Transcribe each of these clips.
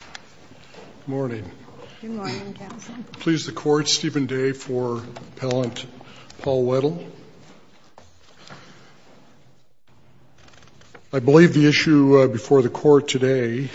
Good morning. Good morning, Counsel. Please, the Court, Stephen Day for Appellant Paul Weddle. I believe the issue before the Court today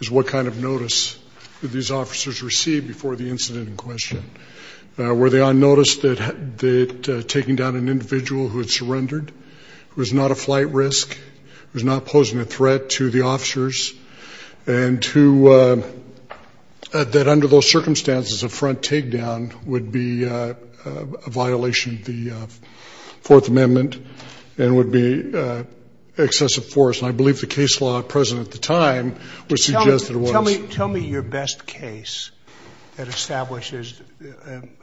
is what kind of notice did these officers receive before the incident in question. Were they on notice that taking down an individual who had surrendered, who was not a flight risk, who was not posing a threat to the officers, and that under those circumstances, a front takedown would be a violation of the Fourth Amendment and would be excessive force. And I believe the case law present at the time would suggest that it was. Tell me your best case that establishes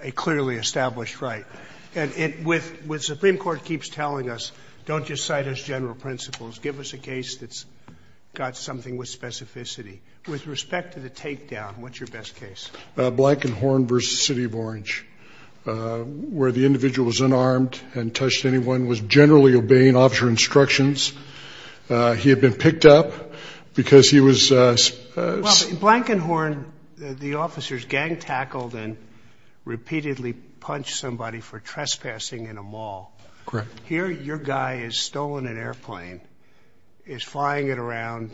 a clearly established right. And with Supreme Court keeps telling us, don't just cite as general principles. Give us a case that's got something with specificity. With respect to the takedown, what's your best case? Blankenhorn v. City of Orange, where the individual was unarmed and touched anyone, was generally obeying officer instructions. He had been picked up because he was. Blankenhorn, the officers gang-tackled and repeatedly punched somebody for trespassing in a mall. Correct. Here, your guy has stolen an airplane, is flying it around,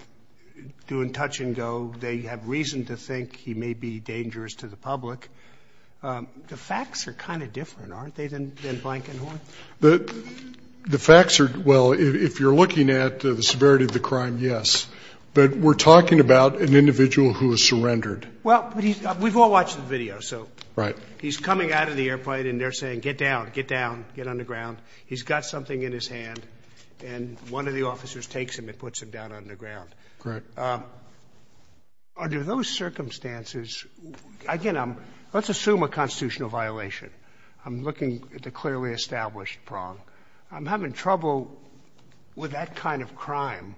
doing touch and go. They have reason to think he may be dangerous to the public. The facts are kind of different, aren't they, than Blankenhorn? The facts are, well, if you're looking at the severity of the crime, yes. But we're talking about an individual who has surrendered. Well, we've all watched the video, so. Right. He's coming out of the airplane, and they're saying, get down, get down, get underground. He's got something in his hand, and one of the officers takes him and puts him down underground. Correct. Under those circumstances, again, let's assume a constitutional violation. I'm looking at the clearly established prong. I'm having trouble with that kind of crime.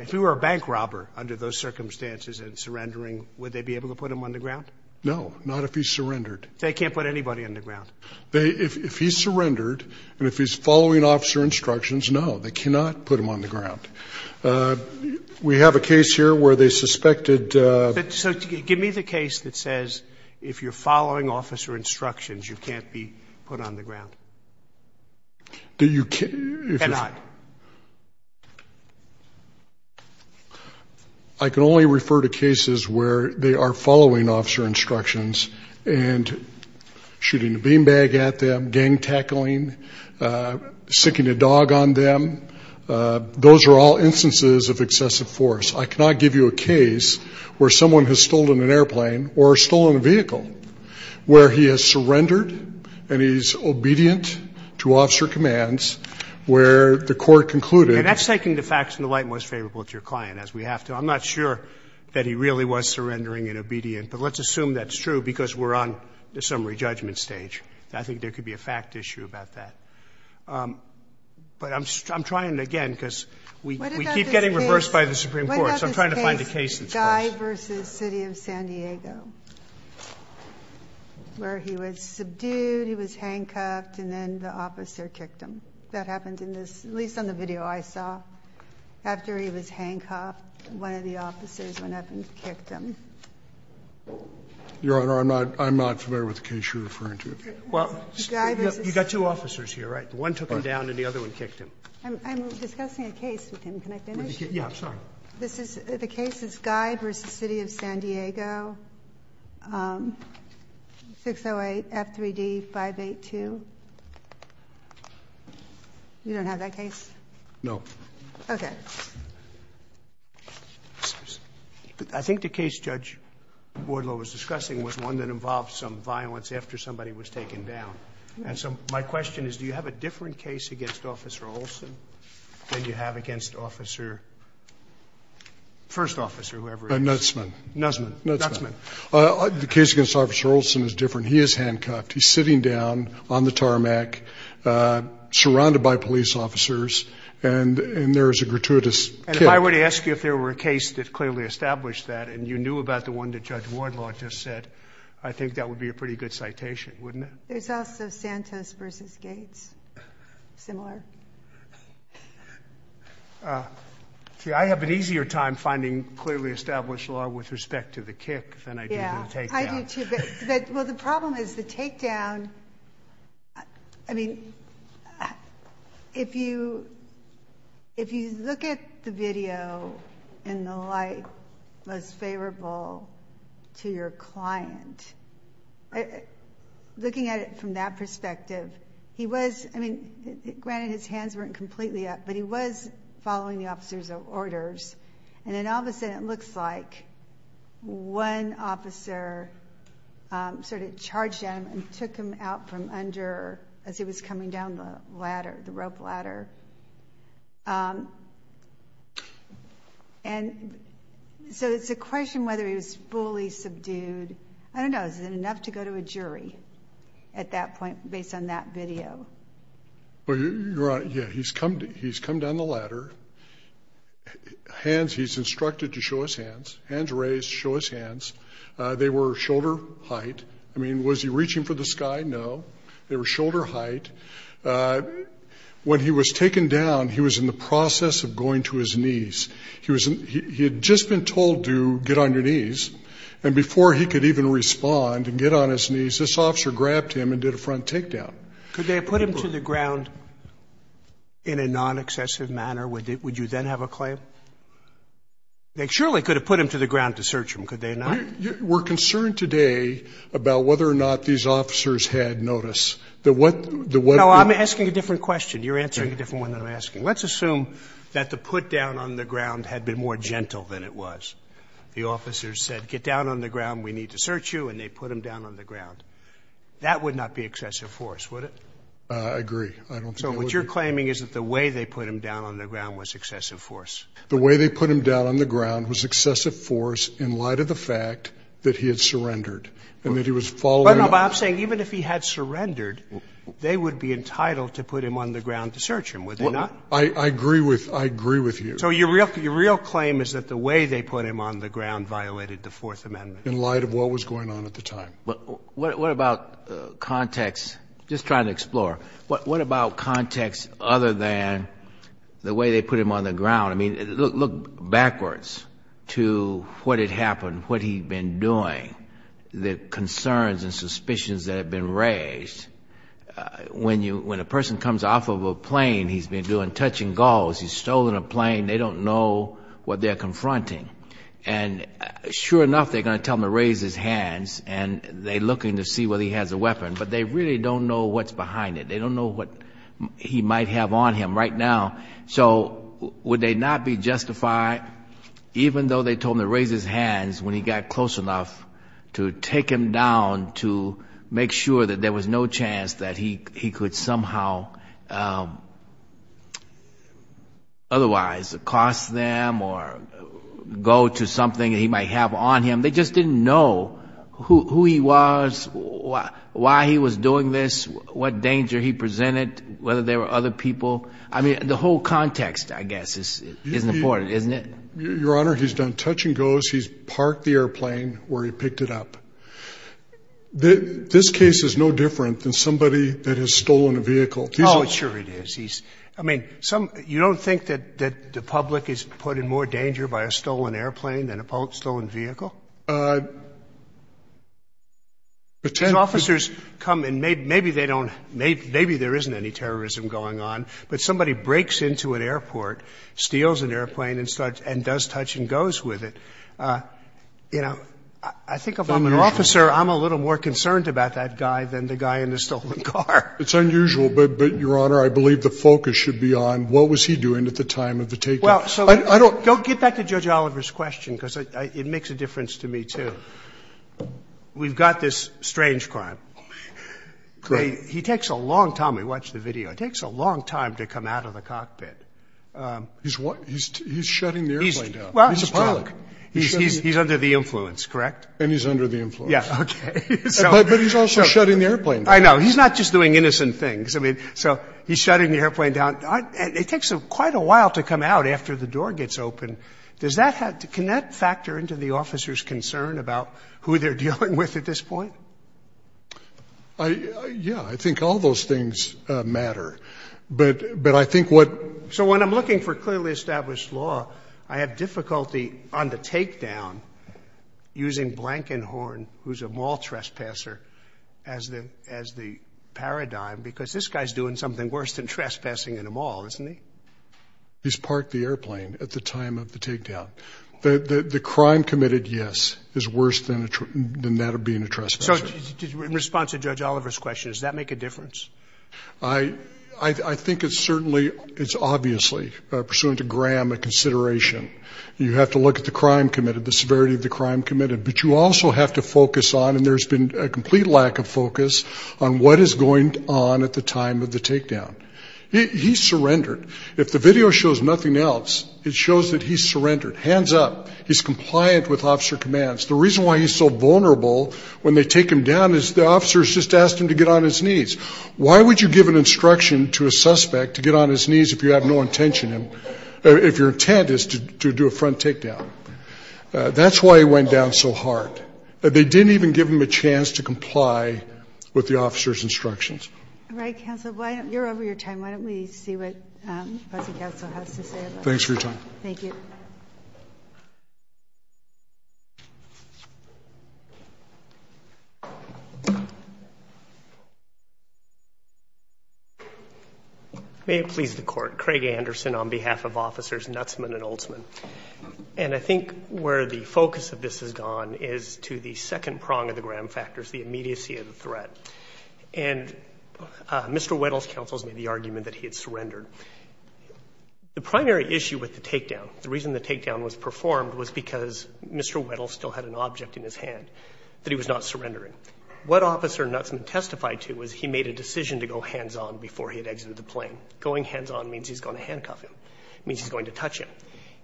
If he were a bank robber under those circumstances and surrendering, would they be able to put him underground? No, not if he surrendered. They can't put anybody underground. If he surrendered and if he's following officer instructions, no, they cannot put him underground. We have a case here where they suspected the ---- Cannot. I can only refer to cases where they are following officer instructions and shooting a beanbag at them, gang tackling, siccing a dog on them. Those are all instances of excessive force. I cannot give you a case where someone has stolen an airplane or stolen a vehicle, where he has surrendered and he's obedient to officer commands, where the court concluded ---- And that's taking the facts in the light most favorable to your client, as we have to. I'm not sure that he really was surrendering and obedient, but let's assume that's true because we're on the summary judgment stage. I think there could be a fact issue about that. But I'm trying, again, because we keep getting reversed by the Supreme Court. So I'm trying to find a case that's close. Guy v. City of San Diego, where he was subdued, he was handcuffed, and then the officer kicked him. That happened in this ---- at least on the video I saw. After he was handcuffed, one of the officers went up and kicked him. Your Honor, I'm not familiar with the case you're referring to. Well, you've got two officers here, right? One took him down and the other one kicked him. I'm discussing a case with him. Can I finish? Yeah, I'm sorry. The case is Guy v. City of San Diego, 608 F3D 582. You don't have that case? No. Okay. I think the case Judge Wardlow was discussing was one that involved some violence after somebody was taken down. And so my question is, do you have a different case against Officer Olson than you have against Officer ---- first officer, whoever it is. Nutzman. Nutzman. Nutzman. Nutzman. The case against Officer Olson is different. He is handcuffed. He's sitting down on the tarmac, surrounded by police officers, and there is a gratuitous kick. And if I were to ask you if there were a case that clearly established that and you knew about the one that Judge Wardlow just said, I think that would be a pretty good citation, wouldn't it? There's also Santos v. Gates, similar. See, I have an easier time finding clearly established law with respect to the kick than I do to the takedown. Yeah, I do, too. But, well, the problem is the takedown, I mean, if you look at the video in the light of the day, you can see that the officer was favorable to your client. Looking at it from that perspective, he was, I mean, granted his hands weren't completely up, but he was following the officer's orders. And then all of a sudden, it looks like one officer sort of charged at him and took him out from under, as he was coming down the ladder, the rope ladder. And so it's a question whether he was fully subdued. I don't know. Is it enough to go to a jury at that point based on that video? Well, you're right. Yeah, he's come down the ladder. Hands, he's instructed to show his hands. Hands raised, show his hands. They were shoulder height. I mean, was he reaching for the sky? No. They were shoulder height. When he was taken down, he was in the process of going to his knees. He had just been told to get on your knees. And before he could even respond and get on his knees, this officer grabbed him and did a front takedown. Could they have put him to the ground in a non-excessive manner? Would you then have a claim? They surely could have put him to the ground to search him, could they not? We're concerned today about whether or not these officers had notice. No, I'm asking a different question. You're answering a different one than I'm asking. Let's assume that the put down on the ground had been more gentle than it was. The officers said, get down on the ground, we need to search you, and they put him down on the ground. That would not be excessive force, would it? I agree. So what you're claiming is that the way they put him down on the ground was excessive force. The way they put him down on the ground was excessive force in light of the fact that he had surrendered and that he was following up. But I'm saying even if he had surrendered, they would be entitled to put him on the ground to search him, would they not? I agree with you. So your real claim is that the way they put him on the ground violated the Fourth Amendment. In light of what was going on at the time. What about context? Just trying to explore. What about context other than the way they put him on the ground? I mean, look backwards to what had happened, what he had been doing. The concerns and suspicions that had been raised. When a person comes off of a plane, he's been doing touching gauze, he's stolen a plane, they don't know what they're confronting. And sure enough, they're going to tell him to raise his hands, and they're looking to see whether he has a weapon. But they really don't know what's behind it. They don't know what he might have on him right now. So would they not be justified, even though they told him to raise his hands, when he got close enough to take him down to make sure that there was no chance that he could somehow otherwise accost them or go to something that he might have on him. They just didn't know who he was, why he was doing this, what danger he presented, whether there were other people. I mean, the whole context, I guess, is important, isn't it? Your Honor, he's done touching gauze. He's parked the airplane where he picked it up. This case is no different than somebody that has stolen a vehicle. Oh, sure it is. I mean, you don't think that the public is put in more danger by a stolen airplane than a stolen vehicle? His officers come and maybe they don't — maybe there isn't any terrorism going on. But somebody breaks into an airport, steals an airplane, and does touch and gauze with it. You know, I think if I'm an officer, I'm a little more concerned about that guy than the guy in the stolen car. It's unusual. But, Your Honor, I believe the focus should be on what was he doing at the time of the taking. Well, so — I don't — Go get back to Judge Oliver's question, because it makes a difference to me, too. We've got this strange crime. He takes a long time — I mean, watch the video. It takes a long time to come out of the cockpit. He's shutting the airplane down. He's a pilot. He's under the influence, correct? And he's under the influence. Yeah, okay. But he's also shutting the airplane down. I know. He's not just doing innocent things. I mean, so he's shutting the airplane down. But it takes quite a while to come out after the door gets open. Does that — can that factor into the officer's concern about who they're dealing with at this point? Yeah. I think all those things matter. But I think what — So when I'm looking for clearly established law, I have difficulty on the takedown using Blankenhorn, who's a mall trespasser, as the paradigm, because this guy's doing something worse than trespassing in a mall, isn't he? He's parked the airplane at the time of the takedown. The crime committed, yes, is worse than that of being a trespasser. So in response to Judge Oliver's question, does that make a difference? I think it's certainly — it's obviously, pursuant to Graham, a consideration. You have to look at the crime committed, the severity of the crime committed. But you also have to focus on — and there's been a complete lack of focus on what is going on at the time of the takedown. He surrendered. If the video shows nothing else, it shows that he surrendered. Hands up. He's compliant with officer commands. The reason why he's so vulnerable when they take him down is the officers just asked him to get on his knees. Why would you give an instruction to a suspect to get on his knees if you have no intention — if your intent is to do a front takedown? That's why he went down so hard. They didn't even give him a chance to comply with the officer's instructions. All right, counsel. You're over your time. Why don't we see what the counsel has to say. Thanks for your time. Thank you. May it please the Court. Craig Anderson on behalf of officers Nutzman and Oltzman. And I think where the focus of this has gone is to the second prong of the Graham factors, the immediacy of the threat. And Mr. Weddle's counsel has made the argument that he had surrendered. The primary issue with the takedown, the reason the takedown was performed, was because Mr. Weddle still had an object in his hand that he was not surrendering. What officer Nutzman testified to was he made a decision to go hands-on before he had exited the plane. Going hands-on means he's going to handcuff him. It means he's going to touch him.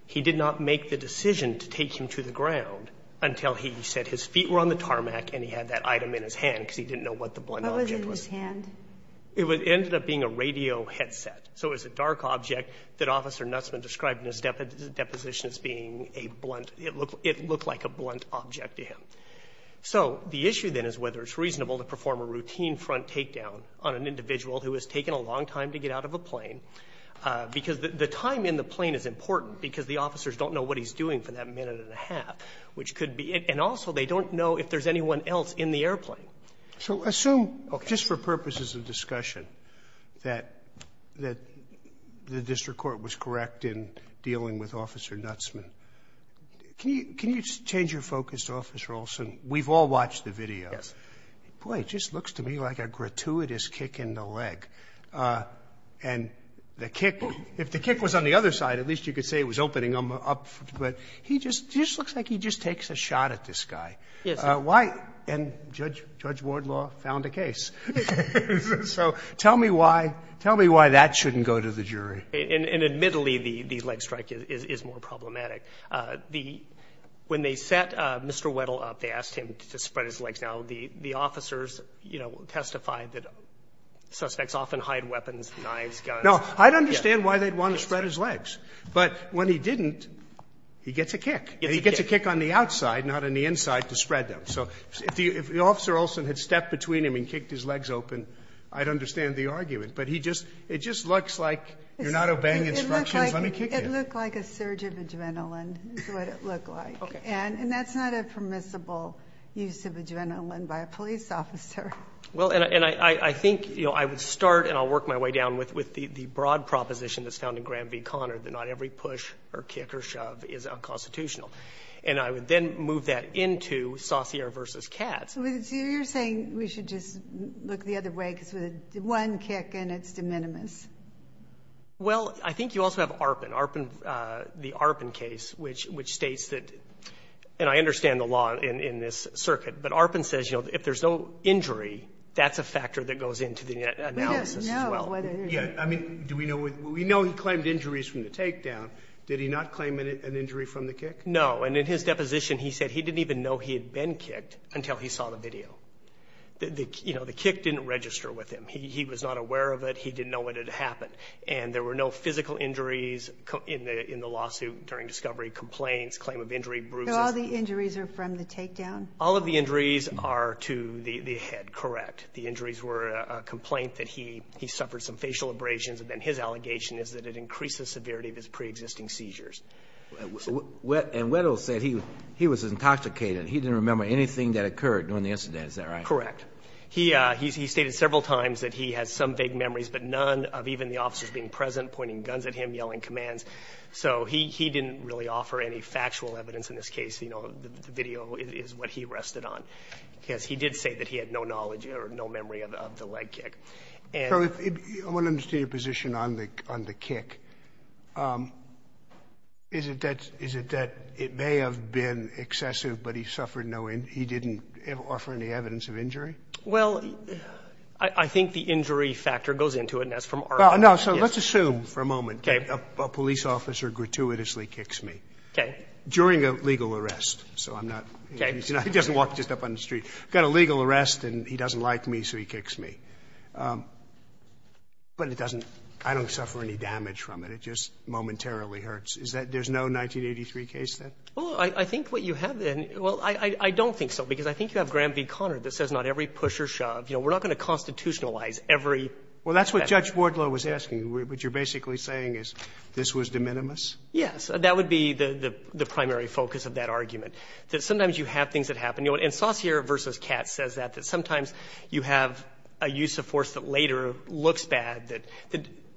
He did not make the decision to take him to the ground until he said his feet were on the tarmac and he had that item in his hand because he didn't know what the blunt object was. What was in his hand? It ended up being a radio headset. So it was a dark object that officer Nutzman described in his deposition as being a blunt, it looked like a blunt object to him. So the issue then is whether it's reasonable to perform a routine front takedown on an airplane because the time in the plane is important because the officers don't know what he's doing for that minute and a half. And also they don't know if there's anyone else in the airplane. So assume, just for purposes of discussion, that the district court was correct in dealing with officer Nutzman. Can you change your focus, Officer Olson? We've all watched the videos. Yes. Boy, it just looks to me like a gratuitous kick in the leg. And the kick, if the kick was on the other side, at least you could say it was opening him up, but he just looks like he just takes a shot at this guy. Yes. And Judge Wardlaw found a case. So tell me why that shouldn't go to the jury. And admittedly the leg strike is more problematic. When they set Mr. Weddle up, they asked him to spread his legs. Now the officers testified that suspects often hide weapons, knives, guns. No, I'd understand why they'd want to spread his legs. But when he didn't, he gets a kick. And he gets a kick on the outside, not on the inside, to spread them. So if Officer Olson had stepped between him and kicked his legs open, I'd understand the argument. But it just looks like you're not obeying instructions on a kick. It looked like a surge of adrenaline is what it looked like. And that's not a permissible use of adrenaline by a police officer. Well, and I think I would start, and I'll work my way down, with the broad proposition that's found in Graham v. Conard, that not every push or kick or shove is unconstitutional. And I would then move that into Saussure v. Katz. So you're saying we should just look the other way because with one kick in, it's de minimis. Well, I think you also have ARPAN. ARPAN, the ARPAN case, which states that, and I understand the law in this circuit, but ARPAN says, you know, if there's no injury, that's a factor that goes into the analysis as well. We don't know whether there's an injury. Yeah, I mean, do we know? We know he claimed injuries from the takedown. Did he not claim an injury from the kick? No. And in his deposition, he said he didn't even know he had been kicked until he saw the video. You know, the kick didn't register with him. He was not aware of it. He didn't know what had happened. And there were no physical injuries in the lawsuit during discovery, complaints, claim of injury, bruises. So all the injuries are from the takedown? All of the injuries are to the head, correct. The injuries were a complaint that he suffered some facial abrasions, and then his allegation is that it increased the severity of his preexisting seizures. And Weddle said he was intoxicated. He didn't remember anything that occurred during the incident. Is that right? Correct. He stated several times that he has some vague memories, but none of even the officers being present, pointing guns at him, yelling commands. So he didn't really offer any factual evidence in this case. You know, the video is what he rested on, because he did say that he had no knowledge or no memory of the leg kick. So I want to understand your position on the kick. Is it that it may have been excessive, but he suffered no injury? He didn't offer any evidence of injury? Well, I think the injury factor goes into it. And that's from our point of view. Well, no. So let's assume for a moment a police officer gratuitously kicks me. Okay. During a legal arrest. So I'm not. Okay. He doesn't walk just up on the street. Got a legal arrest, and he doesn't like me, so he kicks me. But it doesn't – I don't suffer any damage from it. It just momentarily hurts. Is that – there's no 1983 case then? Well, I think what you have – well, I don't think so, because I think you have Graham v. Conard that says not every push or shove. You know, we're not going to constitutionalize every – Well, that's what Judge Bordlow was asking. What you're basically saying is this was de minimis? Yes. That would be the primary focus of that argument, that sometimes you have things that happen. And Saucier v. Katz says that, that sometimes you have a use of force that later looks bad, that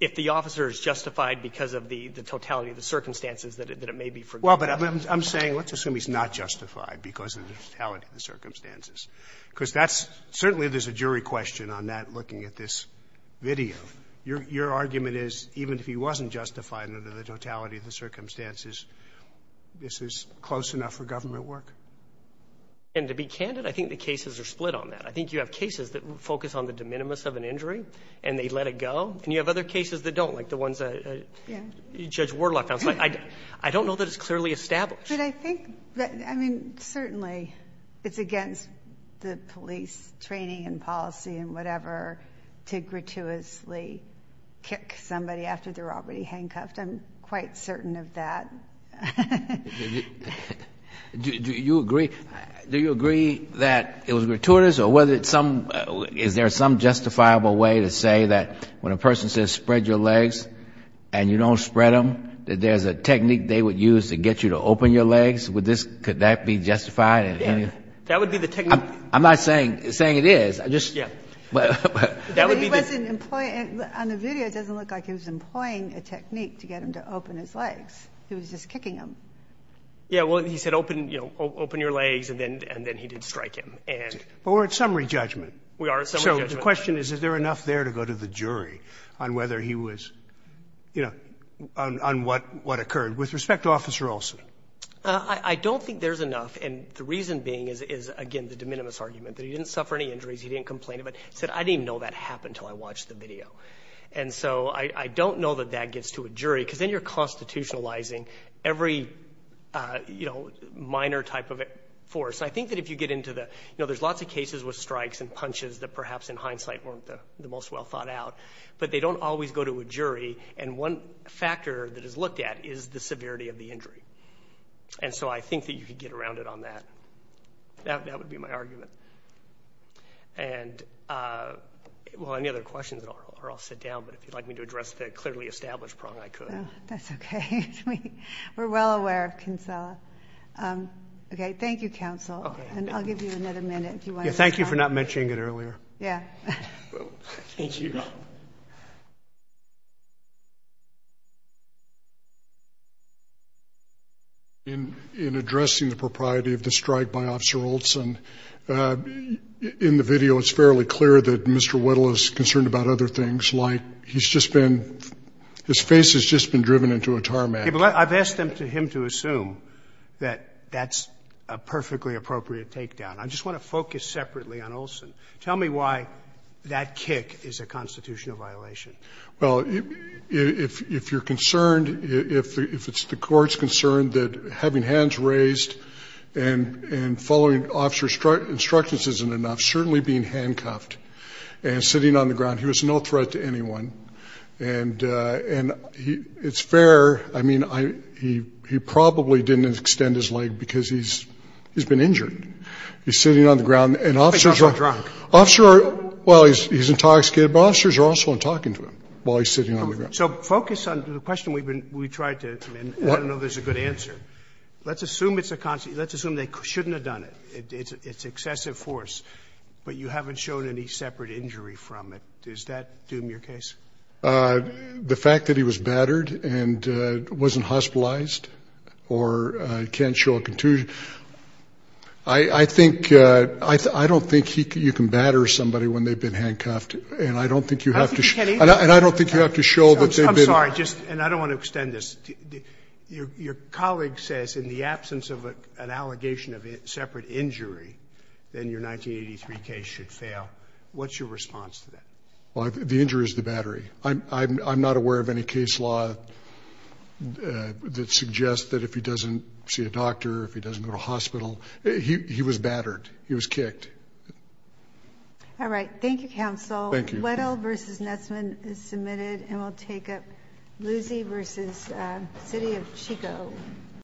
if the officer is justified because of the totality of the circumstances, that it may be forgiven. Well, but I'm saying let's assume he's not justified because of the totality of the circumstances, because that's – certainly there's a jury question on that looking at this video. Your argument is even if he wasn't justified under the totality of the circumstances, this is close enough for government work? And to be candid, I think the cases are split on that. I think you have cases that focus on the de minimis of an injury and they let it go, and you have other cases that don't, like the ones that Judge Wardlock found. I don't know that it's clearly established. But I think – I mean, certainly it's against the police training and policy and whatever to gratuitously kick somebody after they're already handcuffed. I'm quite certain of that. Do you agree that it was gratuitous or whether it's some – is there some justifiable way to say that when a person says spread your legs and you don't spread them, that there's a technique they would use to get you to open your legs? Would this – could that be justified? Yeah. That would be the technique. I'm not saying it is. Yeah. That would be the – But he wasn't – on the video, it doesn't look like he was employing a technique to get him to open his legs. He was just kicking him. Yeah. Well, he said, you know, open your legs, and then he did strike him. But we're at summary judgment. We are at summary judgment. So the question is, is there enough there to go to the jury on whether he was – you know, on what occurred? With respect to Officer Olson. I don't think there's enough, and the reason being is, again, the de minimis argument, that he didn't suffer any injuries, he didn't complain about it. He said, I didn't even know that happened until I watched the video. And so I don't know that that gets to a jury, because then you're constitutionalizing every, you know, minor type of force. I think that if you get into the – you know, there's lots of cases with strikes and punches that perhaps in hindsight weren't the most well thought out, but they don't always go to a jury, and one factor that is looked at is the severity of the injury. And so I think that you could get around it on that. That would be my argument. And, well, any other questions, or I'll sit down, but if you'd like me to address the clearly established prong, I could. That's okay. We're well aware of Kinsella. Okay. Thank you, counsel. Okay. And I'll give you another minute if you want to respond. Thank you for not mentioning it earlier. Yeah. Thank you. Thank you. In addressing the propriety of the strike by Officer Olson, in the video it's fairly clear that Mr. Whittle is concerned about other things, like he's just been – his face has just been driven into a tarmac. I've asked him to assume that that's a perfectly appropriate takedown. I just want to focus separately on Olson. Tell me why that kick is a constitutional violation. Well, if you're concerned – if the court's concerned that having hands raised and following officer's instructions isn't enough, certainly being handcuffed and sitting on the ground – he was no threat to anyone. And it's fair – I mean, he probably didn't extend his leg because he's been injured. He's sitting on the ground. And officers are – He's also drunk. Officers are – well, he's intoxicated, but officers are also talking to him while he's sitting on the ground. So focus on the question we've been – we tried to – and I don't know if there's a good answer. Let's assume it's a – let's assume they shouldn't have done it. It's excessive force. But you haven't shown any separate injury from it. Does that doom your case? The fact that he was battered and wasn't hospitalized or can't show a contusion I think – I don't think you can batter somebody when they've been handcuffed. And I don't think you have to – I think you can either. And I don't think you have to show that they've been – I'm sorry. Just – and I don't want to extend this. Your colleague says in the absence of an allegation of separate injury, then your 1983 case should fail. What's your response to that? Well, the injury is the battery. I'm not aware of any case law that suggests that if he doesn't see a doctor, if he doesn't go to a hospital – he was battered. He was kicked. All right. Thank you, Counsel. Thank you. Weddell v. Nesman is submitted, and we'll take up Lucey v. City of Chico.